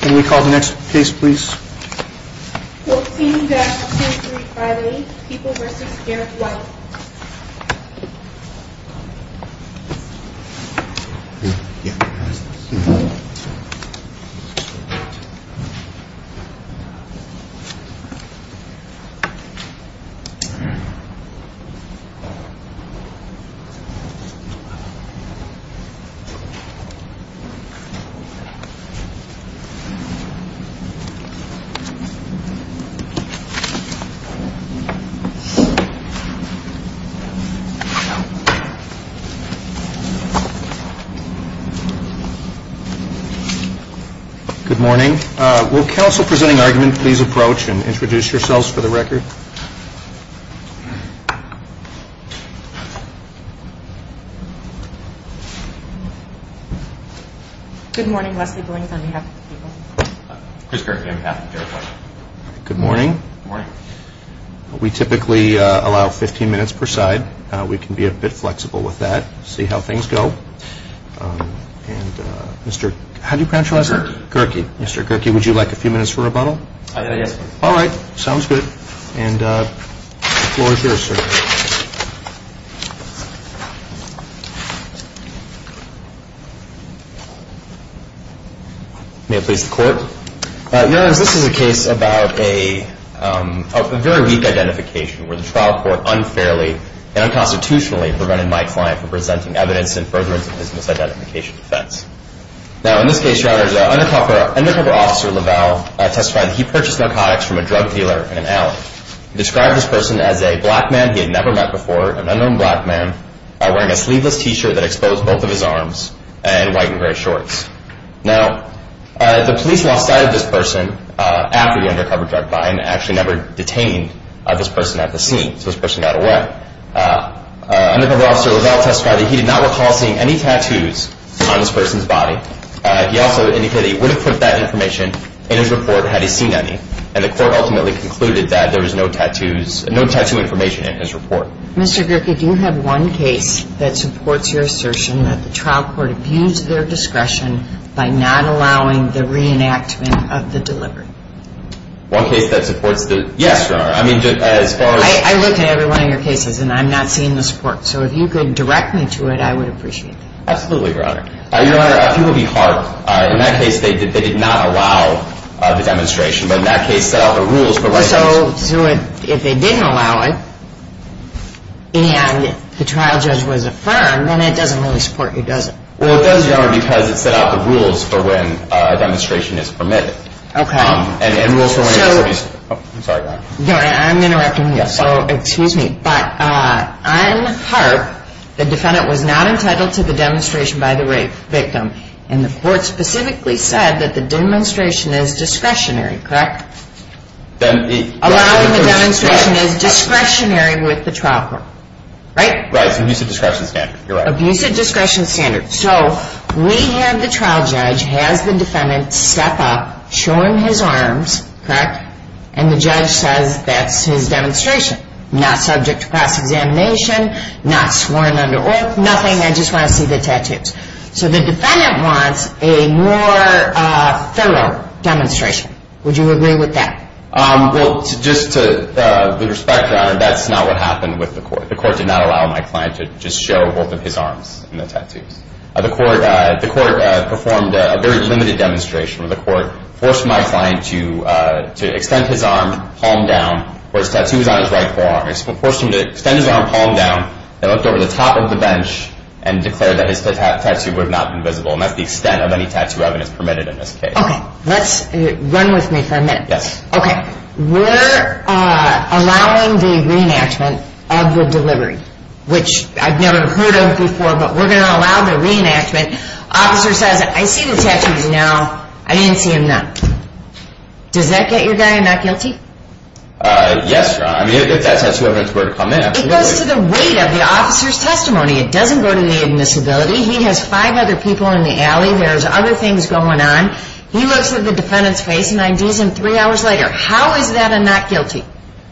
Can we call the next case please? 14-2358, People v. Garrett White Good morning. Will counsel presenting argument please approach and introduce yourselves for the record? Good morning. We typically allow 15 minutes per side. We can be a bit flexible with that. See how things go. How do you pronounce your last name? Gerkey. Mr. Gerkey, would you like a few minutes for rebuttal? Yes, please. All right. Sounds good. And the floor is yours, sir. May I please the court? Your Honors, this is a case about a very weak identification where the trial court unfairly and unconstitutionally prevented my client from presenting evidence in furtherance of his misidentification defense. Now in this case, Your Honors, an undercover officer, LaValle, testified that he purchased narcotics from a drug dealer in an alley. He described this person as a black man he had never met before, an unknown black man, wearing a sleeveless t-shirt that exposed both of his arms and white and gray shorts. Now, the police lost sight of this person after the undercover drug buyer actually never detained this person at the scene. So this person got away. Undercover officer LaValle testified that he did not recall seeing any tattoos on this person's body. He also indicated that he would have put that information in his report had he seen any. And the court ultimately concluded that there was no tattoo information in his report. Mr. Gierke, do you have one case that supports your assertion that the trial court abused their discretion by not allowing the reenactment of the delivery? One case that supports the – yes, Your Honor. I mean, as far as – I looked at every one of your cases, and I'm not seeing the support. So if you could direct me to it, I would appreciate that. Absolutely, Your Honor. Your Honor, a few will be hard. In that case, they did not allow the demonstration. But in that case, the rules for – So if they didn't allow it, and the trial judge was affirmed, then it doesn't really support you, does it? Well, it does, Your Honor, because it set out the rules for when a demonstration is permitted. Okay. And rules for when – So – I'm sorry, Your Honor. Your Honor, I'm interrupting you. Yes. So, excuse me. But on Harp, the defendant was not entitled to the demonstration by the rape victim. And the court specifically said that the demonstration is discretionary, correct? Then it – Allowing the demonstration is discretionary with the trial court, right? Right. It's an abusive discretion standard. You're right. Abusive discretion standard. So we have the trial judge, has the defendant step up, show him his arms, correct? And the judge says that's his demonstration. Not subject to cross-examination, not sworn under oath, nothing. I just want to see the tattoos. So the defendant wants a more thorough demonstration. Would you agree with that? Well, just to – with respect, Your Honor, that's not what happened with the court. The court did not allow my client to just show both of his arms in the tattoos. The court performed a very limited demonstration where the court forced my client to extend his arm, palm down, where his tattoo was on his right forearm. It forced him to extend his arm, palm down, then looked over the top of the bench and declared that his tattoo would not be visible. And that's the extent of any tattoo evidence permitted in this case. Okay. Let's – run with me for a minute. Yes. Okay. We're allowing the reenactment of the delivery, which I've never heard of before, but we're going to allow the reenactment. Officer says, I see the tattoos now. I didn't see them then. Does that get your guy not guilty? Yes, Your Honor. I mean, if that tattoo evidence were to come in, absolutely. It goes to the weight of the officer's testimony. It doesn't go to the admissibility. He has five other people in the alley. There's other things going on. He looks at the defendant's face and ID's him three hours later. How is that a not guilty?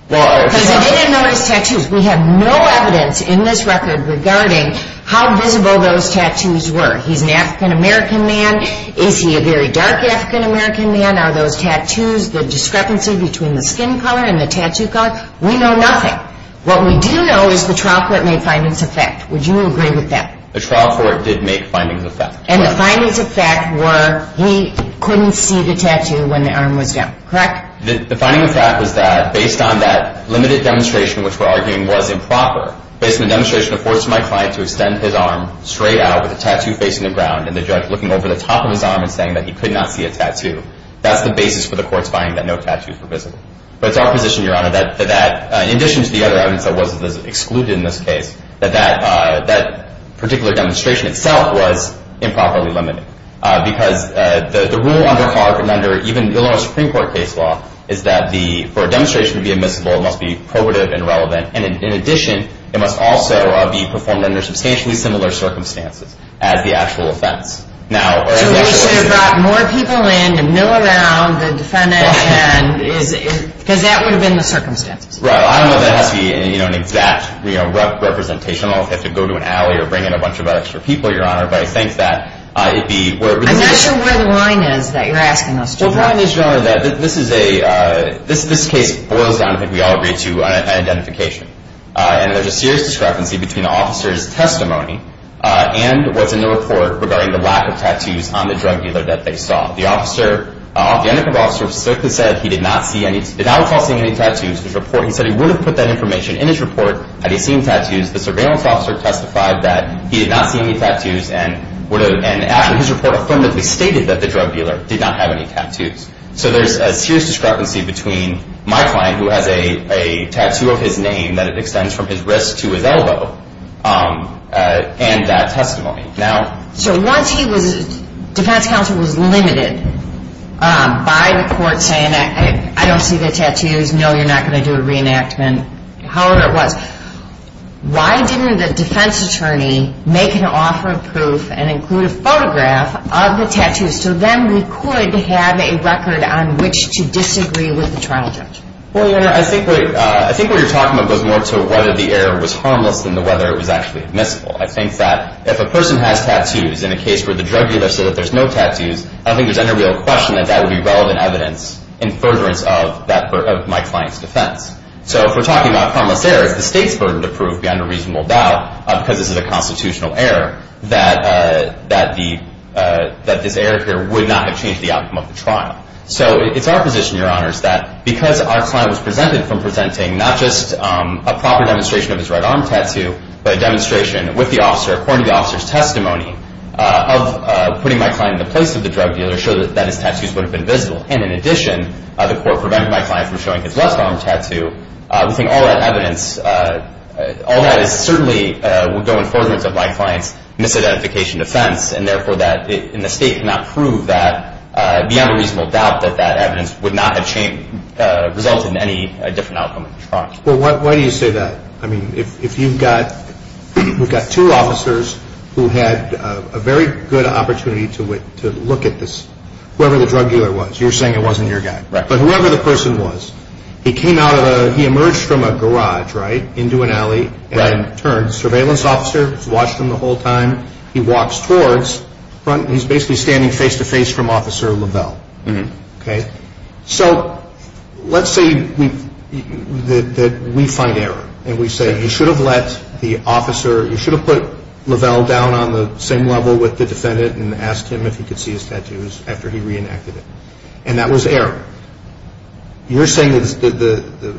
Because they didn't know his tattoos. We have no evidence in this record regarding how visible those tattoos were. He's an African-American man. Is he a very dark African-American man? Are those tattoos the discrepancy between the skin color and the tattoo color? We know nothing. What we do know is the trial court made findings of fact. Would you agree with that? The trial court did make findings of fact. And the findings of fact were he couldn't see the tattoo when the arm was down. Correct? The finding of fact was that based on that limited demonstration, which we're arguing was improper, based on the demonstration of force to my client to extend his arm straight out with the tattoo facing the ground and the judge looking over the top of his arm and saying that he could not see a tattoo, that's the basis for the court's finding that no tattoos were visible. But it's our position, Your Honor, that in addition to the other evidence that wasn't excluded in this case, that that particular demonstration itself was improperly limited. Because the rule under Harp and under even Illinois Supreme Court case law is that for a demonstration to be admissible, it must be probative and relevant. And in addition, it must also be performed under substantially similar circumstances as the actual offense. So we should have brought more people in to mill around the defendant because that would have been the circumstances. Right. I don't know if that has to be an exact representation. I don't know if they have to go to an alley or bring in a bunch of extra people, Your Honor. But I think that it would be... I'm not sure where the line is that you're asking us to draw. The line is, Your Honor, that this is a... This case boils down, I think we all agree, to identification. And there's a serious discrepancy between the officer's testimony and what's in the report regarding the lack of tattoos on the drug dealer that they saw. The undercover officer specifically said he did not recall seeing any tattoos in his report. He said he would have put that information in his report had he seen tattoos. The surveillance officer testified that he did not see any tattoos and his report affirmatively stated that the drug dealer did not have any tattoos. So there's a serious discrepancy between my client, who has a tattoo of his name that extends from his wrist to his elbow, and that testimony. So once he was... Defense counsel was limited by the court saying, I don't see the tattoos, no, you're not going to do a reenactment, however it was. Why didn't the defense attorney make an offer of proof and include a photograph of the tattoos so then we could have a record on which to disagree with the trial judge? Well, Your Honor, I think what you're talking about goes more to whether the error was harmless than whether it was actually admissible. I think that if a person has tattoos in a case where the drug dealer said that there's no tattoos, I don't think there's any real question that that would be relevant evidence in furtherance of my client's defense. So if we're talking about harmless error, it's the state's burden to prove beyond a reasonable doubt, because this is a constitutional error, that this error here would not have changed the outcome of the trial. So it's our position, Your Honor, that because our client was presented from presenting not just a proper demonstration of his right arm tattoo, but a demonstration with the officer, according to the officer's testimony, of putting my client in the place of the drug dealer, show that his tattoos would have been visible. And in addition, the court prevented my client from showing his left arm tattoo. We think all that evidence, all that certainly would go in furtherance of my client's misidentification defense, and therefore that the state cannot prove that beyond a reasonable doubt that that evidence would not have resulted in any different outcome of the trial. Well, why do you say that? I mean, if you've got two officers who had a very good opportunity to look at this, whoever the drug dealer was, you're saying it wasn't your guy. Right. But whoever the person was, he came out of a, he emerged from a garage, right, into an alley and turned. Right. Surveillance officer watched him the whole time. He walks towards, he's basically standing face-to-face from Officer Lavelle. Okay. So let's say that we find error and we say you should have let the officer, you should have put Lavelle down on the same level with the defendant and asked him if he could see his tattoos after he reenacted it. And that was error. You're saying that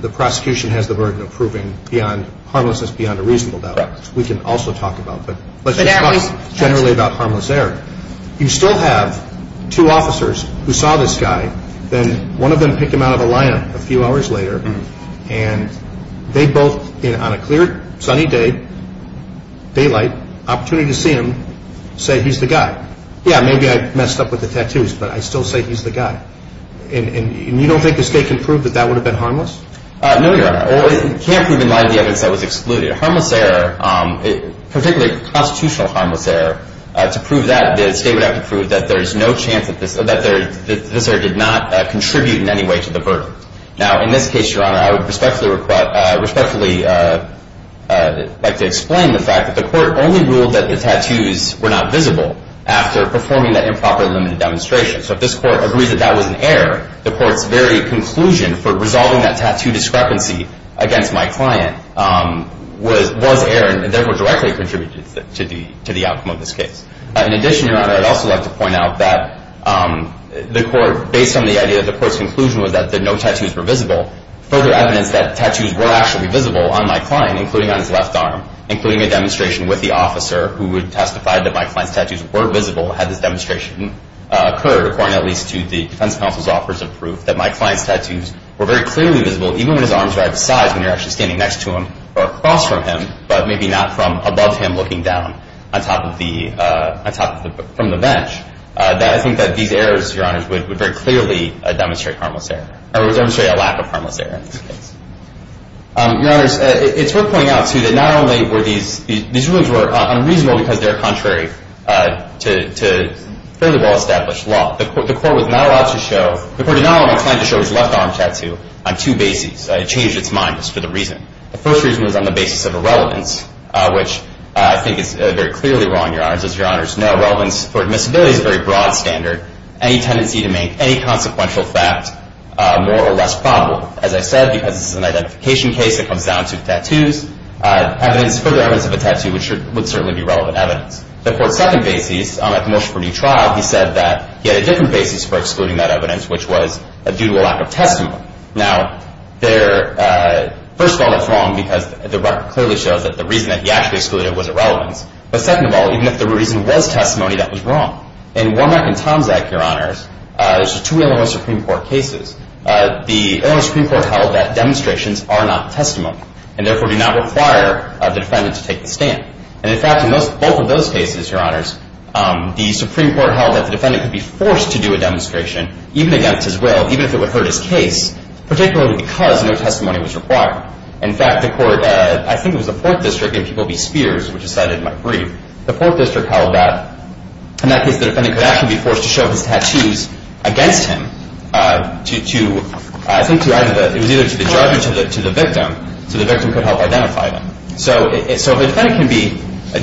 the prosecution has the burden of proving beyond harmlessness, beyond a reasonable doubt. Right. Which we can also talk about, but let's just talk generally about harmless error. You still have two officers who saw this guy, then one of them picked him out of a line a few hours later, and they both, on a clear, sunny day, daylight, opportunity to see him, say he's the guy. Yeah, maybe I messed up with the tattoos, but I still say he's the guy. And you don't think this guy can prove that that would have been harmless? No, Your Honor. Well, you can't prove in light of the evidence that was excluded. Harmless error, particularly constitutional harmless error, to prove that the state would have to prove that there is no chance that this error did not contribute in any way to the burden. Now, in this case, Your Honor, I would respectfully like to explain the fact that the court only ruled that the tattoos were not visible after performing that improperly limited demonstration. So if this court agrees that that was an error, the court's very conclusion for resolving that tattoo discrepancy against my client was error, and therefore directly contributed to the outcome of this case. In addition, Your Honor, I'd also like to point out that the court, based on the idea that the court's conclusion was that no tattoos were visible, further evidence that tattoos were actually visible on my client, including on his left arm, including a demonstration with the officer who testified that my client's tattoos were visible had this demonstration occurred, according at least to the defense counsel's offers of proof, that my client's tattoos were very clearly visible, even when his arms were out of size, when you're actually standing next to him or across from him, but maybe not from above him looking down from the bench. I think that these errors, Your Honors, would very clearly demonstrate harmless error, or would demonstrate a lack of harmless error in this case. Your Honors, it's worth pointing out, too, that these rulings were unreasonable because they're contrary to fairly well-established law. The court did not allow my client to show his left arm tattoo on two bases. It changed its mind just for the reason. The first reason was on the basis of irrelevance, which I think is very clearly wrong, Your Honors. As Your Honors know, relevance for admissibility is a very broad standard. Any tendency to make any consequential fact more or less probable, as I said, because it's an identification case that comes down to tattoos, further evidence of a tattoo would certainly be relevant evidence. The court's second basis, at the motion for new trial, he said that he had a different basis for excluding that evidence, which was due to a lack of testimony. Now, first of all, that's wrong because the record clearly shows that the reason that he actually excluded it was irrelevance. But second of all, even if the reason was testimony, that was wrong. In Wormack and Tomczak, Your Honors, there's two Illinois Supreme Court cases. The Illinois Supreme Court held that demonstrations are not testimony and, therefore, do not require the defendant to take the stand. And, in fact, in both of those cases, Your Honors, the Supreme Court held that the defendant could be forced to do a demonstration, even against his will, even if it would hurt his case, particularly because no testimony was required. In fact, the court, I think it was the Fourth District, in Peabody Spears, which is cited in my brief, the Fourth District held that, in that case, the defendant could actually be forced to show his tattoos against him to, I think, it was either to the judge or to the victim so the victim could help identify them. So if a defendant can be,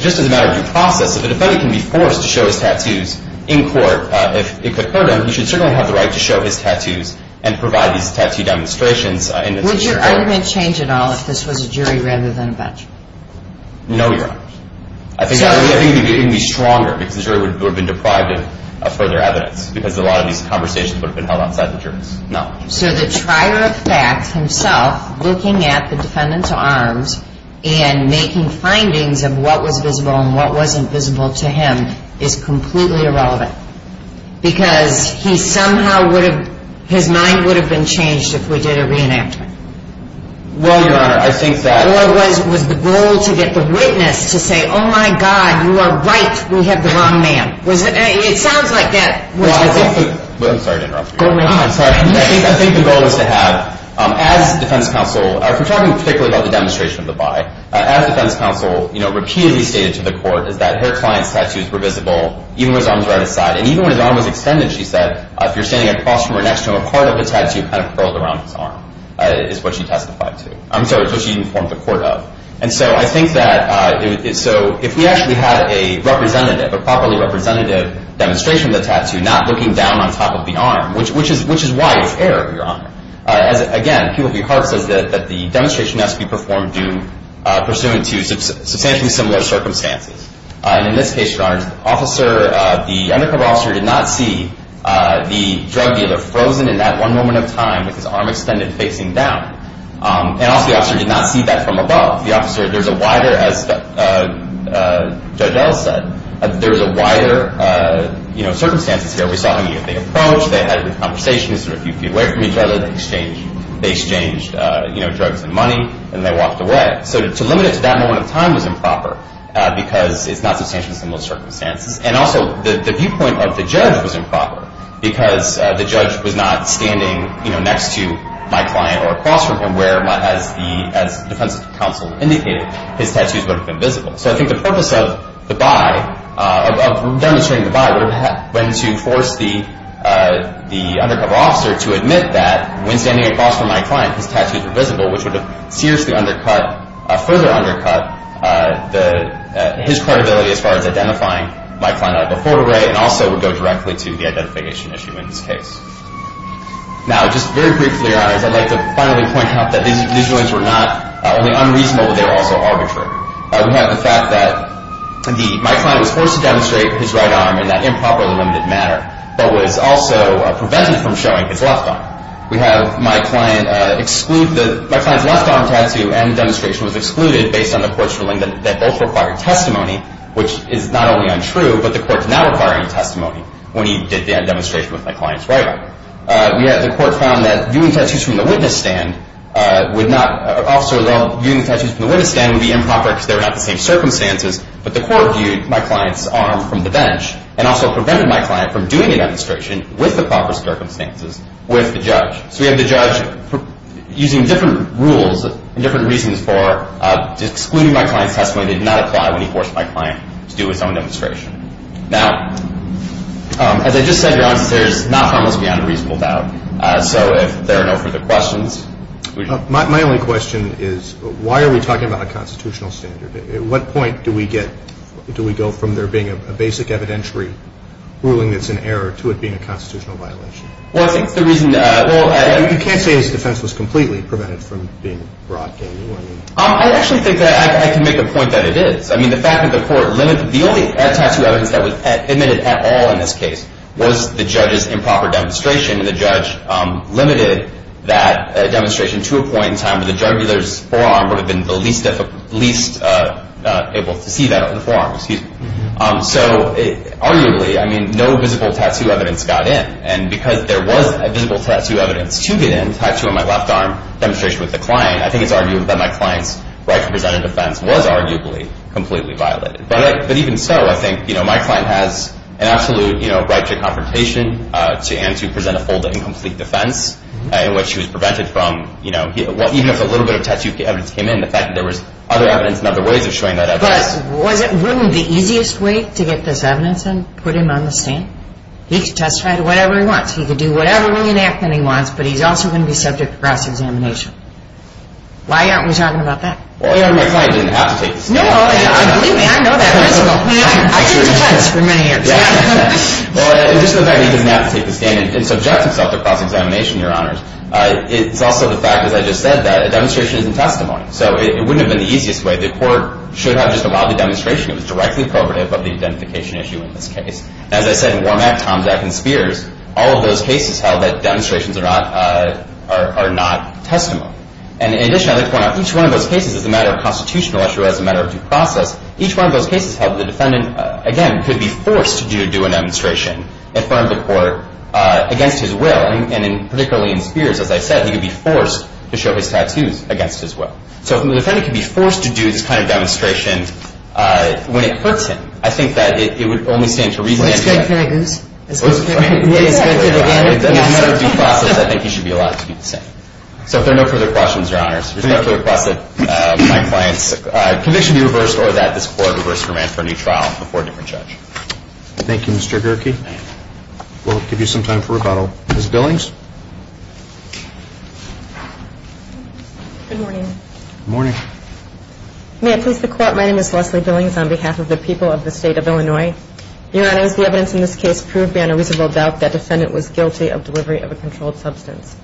just as a matter of due process, if a defendant can be forced to show his tattoos in court, if it could hurt him, he should certainly have the right to show his tattoos and provide these tattoo demonstrations. Would your argument change at all if this was a jury rather than a bench? No, Your Honors. I think it would be stronger because the jury would have been deprived of further evidence because a lot of these conversations would have been held outside the jurors. No. So the trier of facts himself looking at the defendant's arms and making findings of what was visible and what wasn't visible to him is completely irrelevant because he somehow would have, his mind would have been changed if we did a reenactment. Well, Your Honor, I think that... Oh, my God, you are right. We have the wrong man. It sounds like that. I'm sorry to interrupt you. Go right ahead. I think the goal is to have, as defense counsel, if we're talking particularly about the demonstration of the by, as defense counsel repeatedly stated to the court is that her client's tattoos were visible even when his arm was right-of-side. And even when his arm was extended, she said, if you're standing across from her next to her, part of the tattoo kind of curled around his arm is what she testified to, I'm sorry, is what she informed the court of. And so I think that, so if we actually had a representative, a properly representative demonstration of the tattoo not looking down on top of the arm, which is why it was error, Your Honor. Again, he will be hard, says that the demonstration has to be performed due pursuant to substantially similar circumstances. And in this case, Your Honor, the undercover officer did not see the drug dealer frozen in that one moment of time with his arm extended facing down. And also the officer did not see that from above. The officer, there's a wider, as Judge Ellis said, there's a wider, you know, circumstances here. We saw how they approached, they had a conversation, sort of a few feet away from each other, they exchanged, you know, drugs and money, and they walked away. So to limit it to that moment of time was improper because it's not substantially similar circumstances. And also the viewpoint of the judge was improper because the judge was not standing, you know, next to my client or across from him where, as the defense counsel indicated, his tattoos would have been visible. So I think the purpose of the by, of demonstrating the by, would have been to force the undercover officer to admit that when standing across from my client, his tattoos were visible, which would have seriously undercut, further undercut, his credibility as far as identifying my client out of the photo array and also would go directly to the identification issue in this case. Now, just very briefly, Your Honors, I'd like to finally point out that these rulings were not only unreasonable, but they were also arbitrary. We have the fact that my client was forced to demonstrate his right arm in that improperly limited manner, but was also prevented from showing his left arm. We have my client exclude, my client's left arm tattoo and demonstration was excluded based on the court's ruling that both required testimony, which is not only untrue, but the court is now requiring testimony when he did that demonstration with my client's right arm. We have the court found that viewing tattoos from the witness stand would not, also though viewing tattoos from the witness stand would be improper because they were not the same circumstances, but the court viewed my client's arm from the bench and also prevented my client from doing a demonstration with the proper circumstances with the judge. So we have the judge using different rules and different reasons for excluding my client's testimony that did not apply when he forced my client to do his own demonstration. Now, as I just said, Your Honors, there's not far most beyond a reasonable doubt, so if there are no further questions. My only question is why are we talking about a constitutional standard? At what point do we go from there being a basic evidentiary ruling that's in error to it being a constitutional violation? Well, I think the reason, well, I... You can't say his defense was completely prevented from being a broad gain, you know what I mean? I actually think that I can make the point that it is. I mean, the fact that the court limited the only tattoo evidence that was admitted at all in this case was the judge's improper demonstration, and the judge limited that demonstration to a point in time where the juggler's forearm would have been the least able to see that, the forearm, excuse me. So arguably, I mean, no visible tattoo evidence got in, and because there was a visible tattoo evidence to get in, the tattoo on my left arm demonstration with the client, I think it's argued that my client's right to present a defense was arguably completely violated. But even so, I think, you know, my client has an absolute right to confrontation and to present a full and complete defense in which he was prevented from, you know, even if a little bit of tattoo evidence came in, the fact that there was other evidence and other ways of showing that evidence... But was it really the easiest way to get this evidence and put him on the stand? He could testify to whatever he wants. He could do whatever reenactment he wants, but he's also going to be subject to cross-examination. Why aren't we talking about that? Well, your Honor, my client didn't have to take the stand. No, believe me, I know that principle. I mean, I did defense for many years. Well, in addition to the fact that he didn't have to take the stand and subject himself to cross-examination, Your Honors, it's also the fact, as I just said, that a demonstration isn't testimony. So it wouldn't have been the easiest way. The court should have just allowed the demonstration. It was directly coercive of the identification issue in this case. As I said, in Wormack, Tomczak, and Spears, all of those cases held that demonstrations are not testimony. And in addition, I'd like to point out, each one of those cases is a matter of constitutional issue as a matter of due process. Each one of those cases held the defendant, again, could be forced to do a demonstration in front of the court against his will. And particularly in Spears, as I said, he could be forced to show his tattoos against his will. So the defendant could be forced to do this kind of demonstration when it hurts him. I think that it would only stand to re-examine. What's good, can I goose? As a matter of due process, I think he should be allowed to be the same. So if there are no further questions, Your Honors, respectfully requested my client's conviction be reversed or that this court reverse command for a new trial before a different judge. Thank you, Mr. Gerke. We'll give you some time for rebuttal. Ms. Billings? Good morning. Good morning. May I please be called? My name is Leslie Billings on behalf of the people of the State of Illinois. Your Honors, the evidence in this case proved beyond a reasonable doubt that defendant was guilty of delivery of a controlled substance.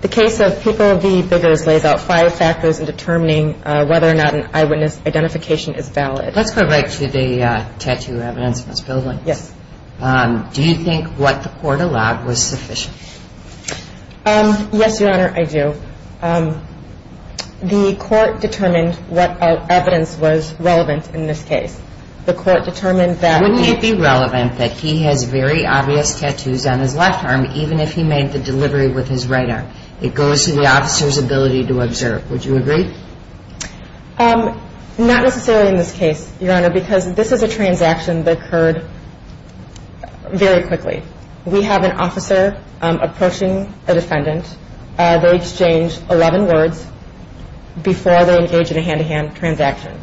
The case of People v. Biggers lays out five factors in determining whether or not an eyewitness identification is valid. Let's go right to the tattoo evidence, Ms. Billings. Yes. Do you think what the court allowed was sufficient? Yes, Your Honor, I do. The court determined what evidence was relevant in this case. The court determined that... Wouldn't it be relevant that he has very obvious tattoos on his left arm even if he made the delivery with his right arm? It goes to the officer's ability to observe. Would you agree? Not necessarily in this case, Your Honor, because this is a transaction that occurred very quickly. We have an officer approaching a defendant. They exchange 11 words before they engage in a hand-to-hand transaction,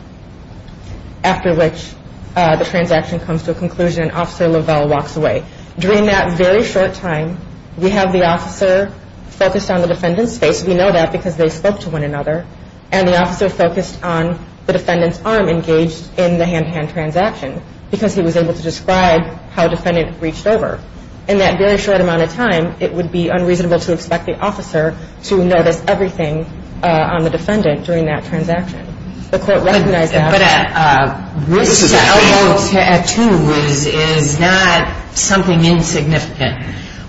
after which the transaction comes to a conclusion and Officer Lovell walks away. During that very short time, we have the officer focused on the defendant's face. We know that because they spoke to one another, and the officer focused on the defendant's arm engaged in the hand-to-hand transaction because he was able to describe how defendant reached over. In that very short amount of time, it would be unreasonable to expect the officer to notice everything on the defendant during that transaction. The court recognized that. But a wrist or elbow tattoo is not something insignificant,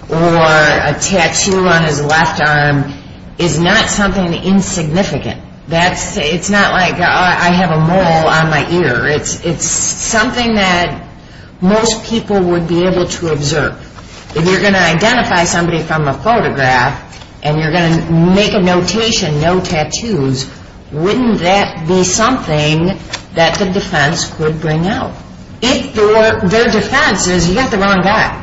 or a tattoo on his left arm is not something insignificant. It's not like I have a mole on my ear. It's something that most people would be able to observe. If you're going to identify somebody from a photograph and you're going to make a notation, no tattoos, wouldn't that be something that the defense could bring out? If the defense says you got the wrong guy,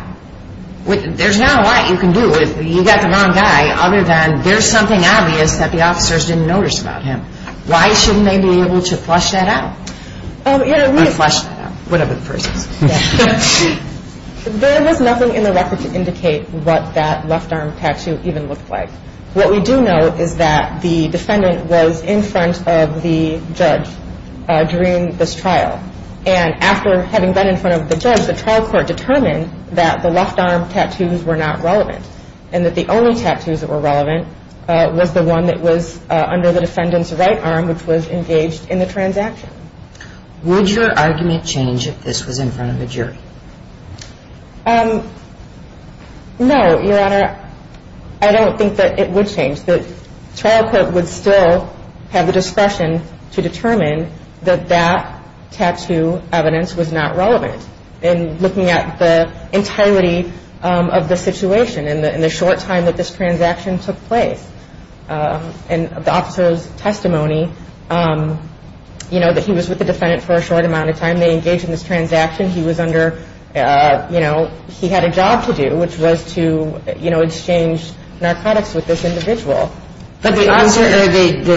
there's not a lot you can do if you got the wrong guy other than there's something obvious that the officers didn't notice about him. Why shouldn't they be able to flush that out? You know, we'd flush that out, whatever the person is. There was nothing in the record to indicate what that left arm tattoo even looked like. What we do know is that the defendant was in front of the judge during this trial. And after having been in front of the judge, the trial court determined that the left arm tattoos were not relevant and that the only tattoos that were relevant was the one that was under the defendant's right arm, which was engaged in the transaction. Would your argument change if this was in front of a jury? No, Your Honor. I don't think that it would change. The trial court would still have the discretion to determine that that tattoo evidence was not relevant. And looking at the entirety of the situation and the short time that this transaction took place and the officer's testimony, you know, that he was with the defendant for a short amount of time, they engaged in this transaction. He was under, you know, he had a job to do, which was to, you know, exchange narcotics with this individual. But the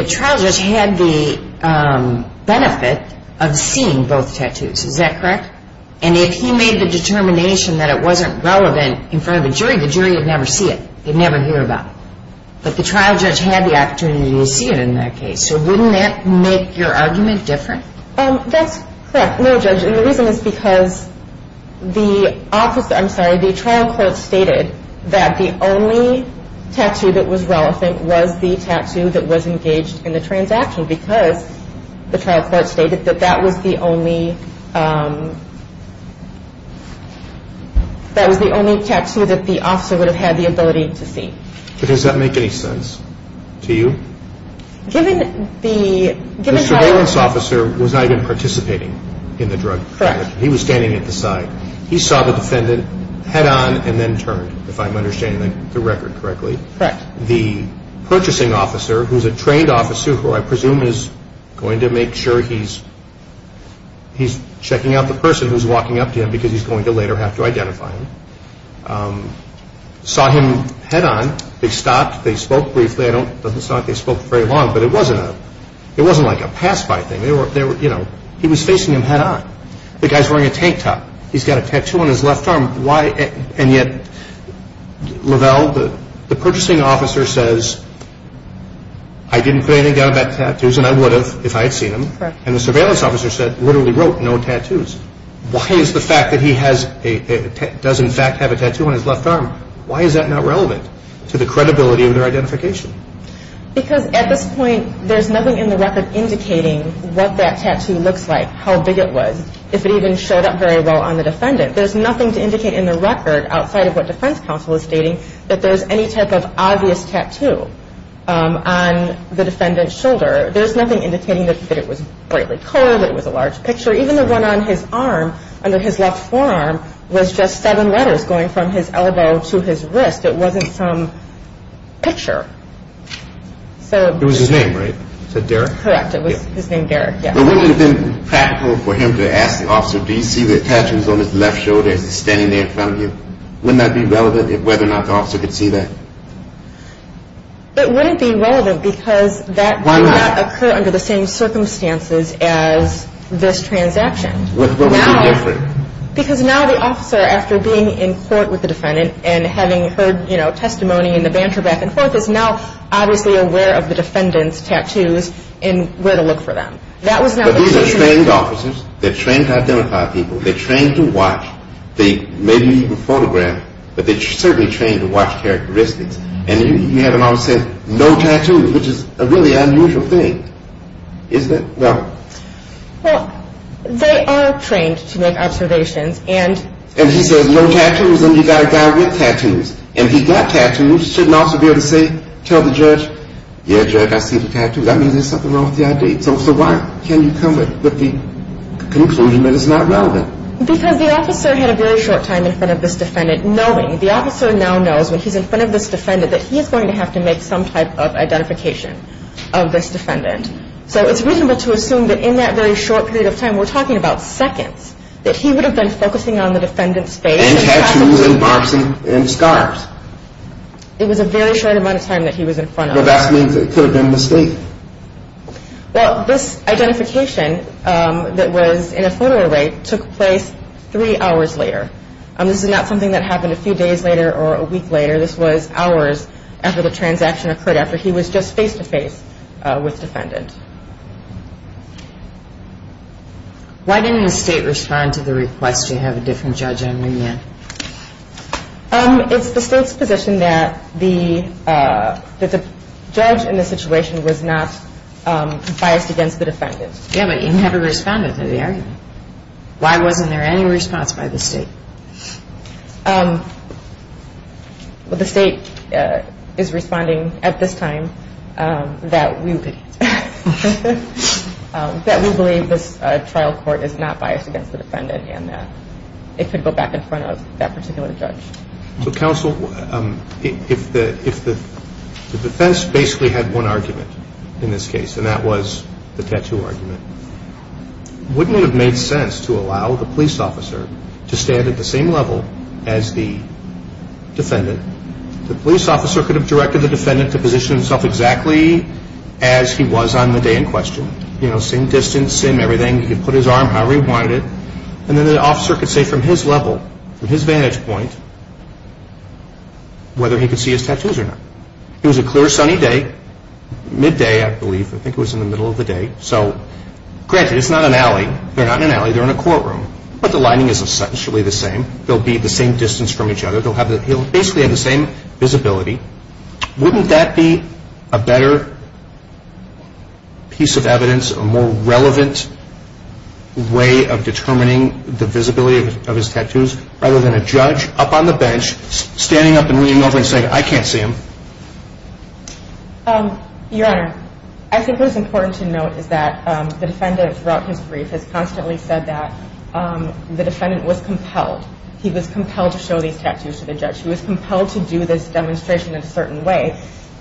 trial just had the benefit of seeing both tattoos, is that correct? And if he made the determination that it wasn't relevant in front of a jury, the jury would never see it. They'd never hear about it. But the trial judge had the opportunity to see it in that case. So wouldn't that make your argument different? That's correct. No, Judge, and the reason is because the trial court stated that the only tattoo that was relevant was the tattoo that was engaged in the transaction because the trial court stated that that was the only tattoo that the officer would have had the ability to see. Does that make any sense to you? Given the... The surveillance officer was not even participating in the drug transaction. Correct. He was standing at the side. He saw the defendant head on and then turned, if I'm understanding the record correctly. Correct. The purchasing officer, who's a trained officer, who I presume is going to make sure he's checking out the person who's walking up to him because he's going to later have to identify him, saw him head on. They stopped. They spoke briefly. I don't... It doesn't sound like they spoke very long, but it wasn't a... It wasn't like a pass-by thing. They were... You know, he was facing him head on. The guy's wearing a tank top. He's got a tattoo on his left arm. Why... And yet, Lavelle, the purchasing officer says, I didn't put anything down about tattoos and I would have if I had seen them. Correct. And the surveillance officer said, literally wrote, no tattoos. Why is the fact that he does, in fact, have a tattoo on his left arm, why is that not relevant to the credibility of their identification? Because at this point, there's nothing in the record indicating what that tattoo looks like, how big it was, if it even showed up very well on the defendant. There's nothing to indicate in the record, outside of what defense counsel is stating, that there's any type of obvious tattoo on the defendant's shoulder. There's nothing indicating that it was brightly colored, that it was a large picture. Even the one on his arm, under his left forearm, was just seven letters going from his elbow to his wrist. It wasn't some picture. It was his name, right? Is that Derek? Correct. It was his name, Derek. Wouldn't it have been practical for him to ask the officer, do you see the tattoos on his left shoulder, is he standing there in front of you? Wouldn't that be relevant, whether or not the officer could see that? It wouldn't be relevant because that would not occur under the same circumstances as this transaction. What would be different? Because now the officer, after being in court with the defendant and having heard testimony in the banter back and forth, is now obviously aware of the defendant's tattoos and where to look for them. But these are trained officers. They're trained to identify people. They're trained to watch. They maybe even photograph, but they're certainly trained to watch characteristics. And you have an officer with no tattoos, which is a really unusual thing. Isn't it? Well, they are trained to make observations. And he says no tattoos, and you've got a guy with tattoos. And he's got tattoos. He shouldn't also be able to say, tell the judge, yeah, Derek, I see the tattoos. That means there's something wrong with the ID. So why can't you come with the conclusion that it's not relevant? Because the officer had a very short time in front of this defendant knowing, the officer now knows when he's in front of this defendant that he is going to have to make some type of identification of this defendant. So it's reasonable to assume that in that very short period of time, we're talking about seconds, that he would have been focusing on the defendant's face and tattoos and marks and scars. It was a very short amount of time that he was in front of. But that means it could have been a mistake. Well, this identification that was in a photo array took place three hours later. This is not something that happened a few days later or a week later. This was hours after the transaction occurred, after he was just face-to-face with the defendant. Why didn't the state respond to the request to have a different judge on the in? It's the state's position that the judge in the situation was not biased against the defendant. Yeah, but you never responded to the argument. Why wasn't there any response by the state? Well, the state is responding at this time that we believe this trial court is not biased against the defendant and that it could go back in front of that particular judge. So, counsel, if the defense basically had one argument in this case, and that was the tattoo argument, wouldn't it have made sense to allow the police officer to stand at the same level as the defendant? The police officer could have directed the defendant to position himself exactly as he was on the day in question. You know, same distance, same everything. He could put his arm however he wanted it. And then the officer could say from his level, from his vantage point, whether he could see his tattoos or not. It was a clear sunny day, midday, I believe. I think it was in the middle of the day. So, granted, it's not an alley. They're not in an alley. They're in a courtroom. But the lining is essentially the same. They'll be the same distance from each other. They'll basically have the same visibility. Wouldn't that be a better piece of evidence, a more relevant way of determining the visibility of his tattoos rather than a judge up on the bench standing up and leaning over and saying, I can't see them? Your Honor, I think what is important to note is that the defendant, throughout his brief, has constantly said that the defendant was compelled. He was compelled to show these tattoos to the judge. He was compelled to do this demonstration in a certain way.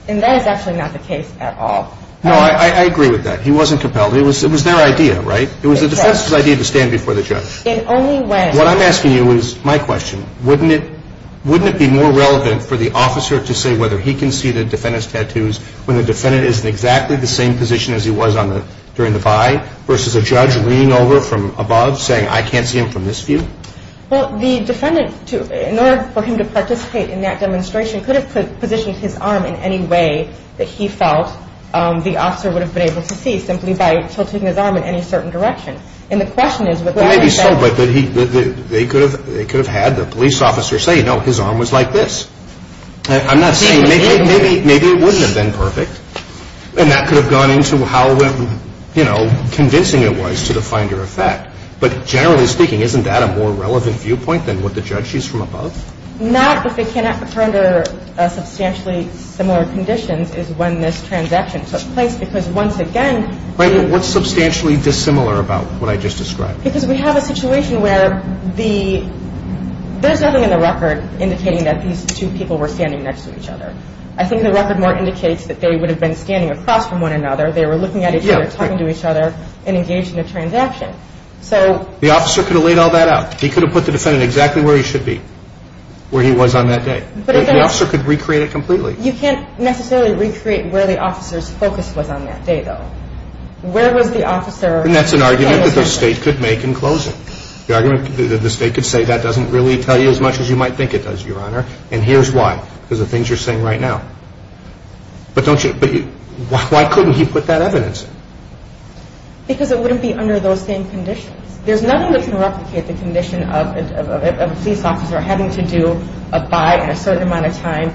And that is actually not the case at all. No, I agree with that. He wasn't compelled. It was their idea, right? It was the defense's idea to stand before the judge. What I'm asking you is my question. Wouldn't it be more relevant for the officer to say whether he can see the defendant's tattoos when the defendant is in exactly the same position as he was during the buy versus a judge leaning over from above saying, I can't see him from this view? Well, the defendant, in order for him to participate in that demonstration, could have positioned his arm in any way that he felt the officer would have been able to see simply by tilting his arm in any certain direction. And the question is whether or not he said that. They could have had the police officer say, no, his arm was like this. I'm not saying maybe it wouldn't have been perfect. And that could have gone into how convincing it was to the finder of fact. But generally speaking, isn't that a more relevant viewpoint than what the judge sees from above? Not if they cannot render substantially similar conditions as when this transaction took place because, once again – What's substantially dissimilar about what I just described? Because we have a situation where there's nothing in the record indicating that these two people were standing next to each other. I think the record more indicates that they would have been standing across from one another. They were looking at each other, talking to each other, and engaged in a transaction. The officer could have laid all that out. He could have put the defendant exactly where he should be, where he was on that day. The officer could recreate it completely. You can't necessarily recreate where the officer's focus was on that day, though. And that's an argument that the state could make in closing. The argument that the state could say, that doesn't really tell you as much as you might think it does, Your Honor. And here's why, because of the things you're saying right now. But why couldn't he put that evidence in? Because it wouldn't be under those same conditions. There's nothing that can replicate the condition of a police officer having to do a buy in a certain amount of time,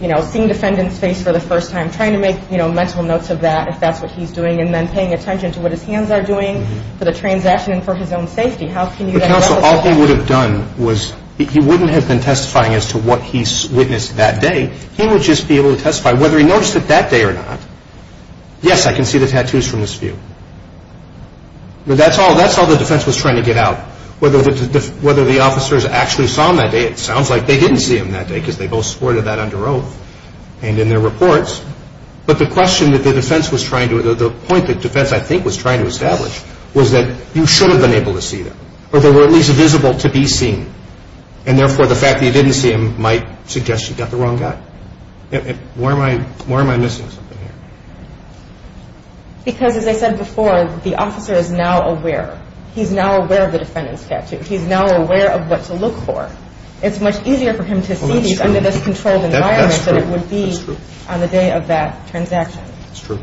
seeing the defendant's face for the first time, trying to make mental notes of that, if that's what he's doing, and then paying attention to what his hands are doing for the transaction and for his own safety. But, Counsel, all he would have done was, he wouldn't have been testifying as to what he witnessed that day. He would just be able to testify whether he noticed it that day or not. Yes, I can see the tattoos from this view. But that's all the defense was trying to get out, whether the officers actually saw him that day. It sounds like they didn't see him that day because they both supported that under oath. And in their reports. But the question that the defense was trying to, the point that defense, I think, was trying to establish, was that you should have been able to see them, or they were at least visible to be seen. And, therefore, the fact that you didn't see him might suggest you got the wrong guy. Why am I missing something here? Because, as I said before, the officer is now aware. He's now aware of the defendant's tattoo. He's now aware of what to look for. It's much easier for him to see these under this controlled environment than it would be on the day of that transaction. That's true.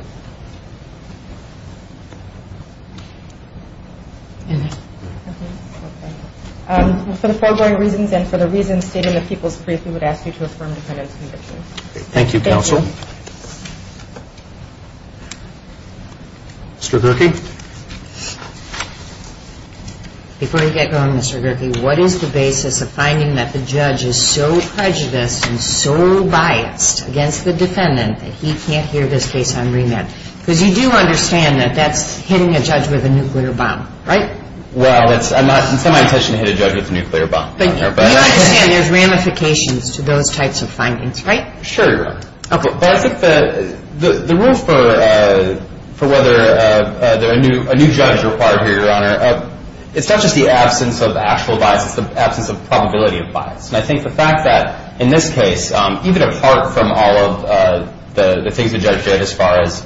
For the foregoing reasons and for the reasons stated in the people's brief, we would ask you to affirm the defendant's conviction. Thank you, counsel. Mr. Gerke. Before you get going, Mr. Gerke, what is the basis of finding that the judge is so prejudiced and so biased against the defendant that he can't hear this case on remand? Because you do understand that that's hitting a judge with a nuclear bomb, right? Well, it's not my intention to hit a judge with a nuclear bomb. Thank you. But you understand there's ramifications to those types of findings, right? Sure. But I think the rules for whether a new judge is required here, Your Honor, it's not just the absence of actual bias. It's the absence of probability of bias. And I think the fact that in this case, even apart from all of the things the judge did as far as,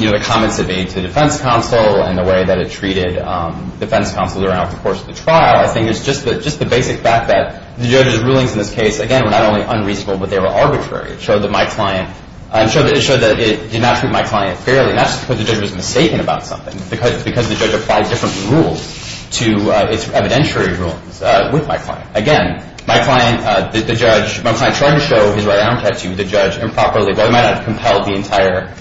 you know, the comments it made to the defense counsel and the way that it treated defense counsel throughout the course of the trial, I think it's just the basic fact that the judge's rulings in this case, again, were not only unreasonable, but they were arbitrary. It showed that it did not treat my client fairly. And that's because the judge was mistaken about something, because the judge applied different rules to its evidentiary rulings with my client. Again, my client tried to show his right arm tattoo to the judge improperly, but it might not have compelled the entire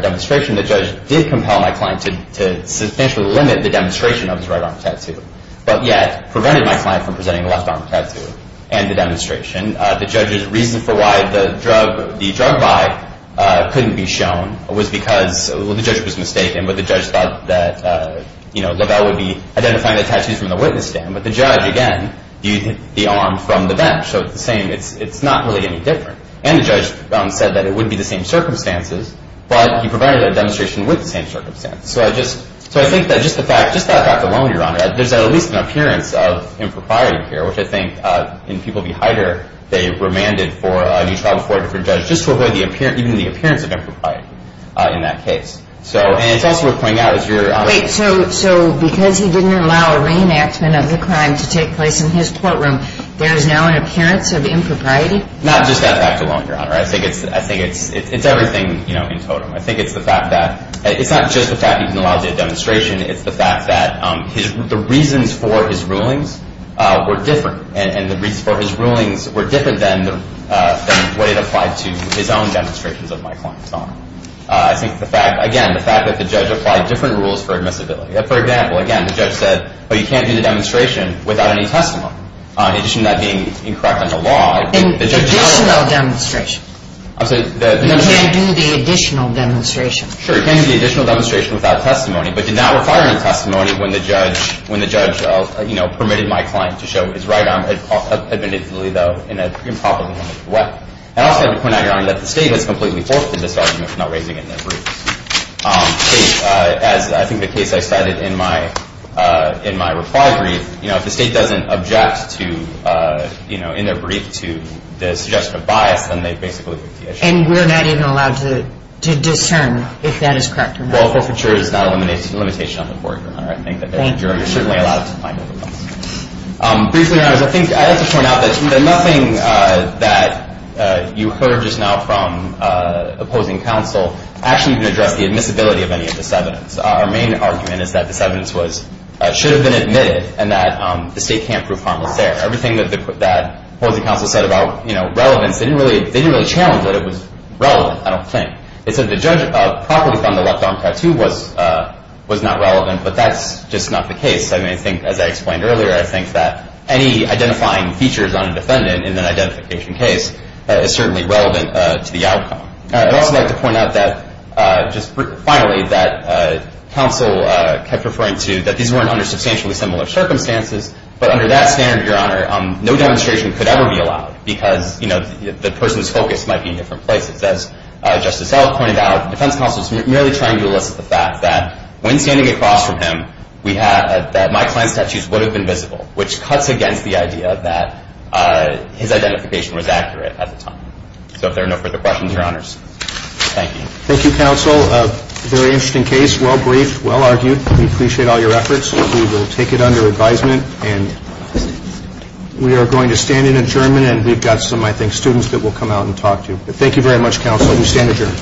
demonstration. The judge did compel my client to substantially limit the demonstration of his right arm tattoo, but yet prevented my client from presenting a left arm tattoo and the demonstration. The judge's reason for why the drug by couldn't be shown was because the judge was mistaken, but the judge thought that, you know, LaBelle would be identifying the tattoos from the witness stand. But the judge, again, viewed the arm from the bench. So it's the same. It's not really any different. And the judge said that it would be the same circumstances, but he prevented a demonstration with the same circumstances. So I think that just the fact, just that fact alone, Your Honor, there's at least an appearance of impropriety here, which I think in People v. Heider, they remanded for a new trial before a different judge, just to avoid even the appearance of impropriety in that case. And it's also worth pointing out, as your Honor. Wait, so because he didn't allow a reenactment of the crime to take place in his courtroom, there is now an appearance of impropriety? Not just that fact alone, Your Honor. I think it's everything, you know, in totem. I think it's the fact that it's not just the fact he didn't allow the demonstration. It's the fact that the reasons for his rulings were different. And the reasons for his rulings were different than what it applied to his own demonstrations of my client's arm. I think the fact, again, the fact that the judge applied different rules for admissibility. For example, again, the judge said, oh, you can't do the demonstration without any testimony. In addition to that being incorrect under law, the judge held that. Additional demonstration. I'm sorry. You can't do the additional demonstration. Sure, you can't do the additional demonstration without testimony. But did not require any testimony when the judge, you know, permitted my client to show his right arm admissibly though in an improperly handled threat. And I also have to point out, Your Honor, that the State has completely forfeited this argument for not raising it in their brief. As I think the case I cited in my reply brief, you know, if the State doesn't object to, you know, in their brief to the suggestion of bias, then they basically lift the issue. And we're not even allowed to discern if that is correct or not. Well, forfeiture is not a limitation on the court, Your Honor. Thank you. You're certainly allowed to find overcomes. Briefly, Your Honors, I think I have to point out that nothing that you heard just now from opposing counsel actually can address the admissibility of any of this evidence. Our main argument is that this evidence should have been admitted and that the State can't prove harmless there. Everything that opposing counsel said about, you know, relevance, they didn't really challenge it. It was relevant, I don't think. They said the judge properly found the left arm tattoo was not relevant, but that's just not the case. I mean, I think, as I explained earlier, I think that any identifying features on a defendant in an identification case is certainly relevant to the outcome. I'd also like to point out that just finally that counsel kept referring to that these weren't under substantially similar circumstances, but under that standard, Your Honor, no demonstration could ever be allowed because, you know, the person's focus might be in different places. As Justice Elk pointed out, defense counsel is merely trying to elicit the fact that when standing across from him, that my client's tattoos would have been visible, which cuts against the idea that his identification was accurate at the time. So if there are no further questions, Your Honors, thank you. Thank you, counsel. Very interesting case. Well briefed. Well argued. We appreciate all your efforts. We will take it under advisement, and we are going to stand adjournment, and we've got some, I think, students that will come out and talk to you. Thank you very much, counsel. We stand adjourned.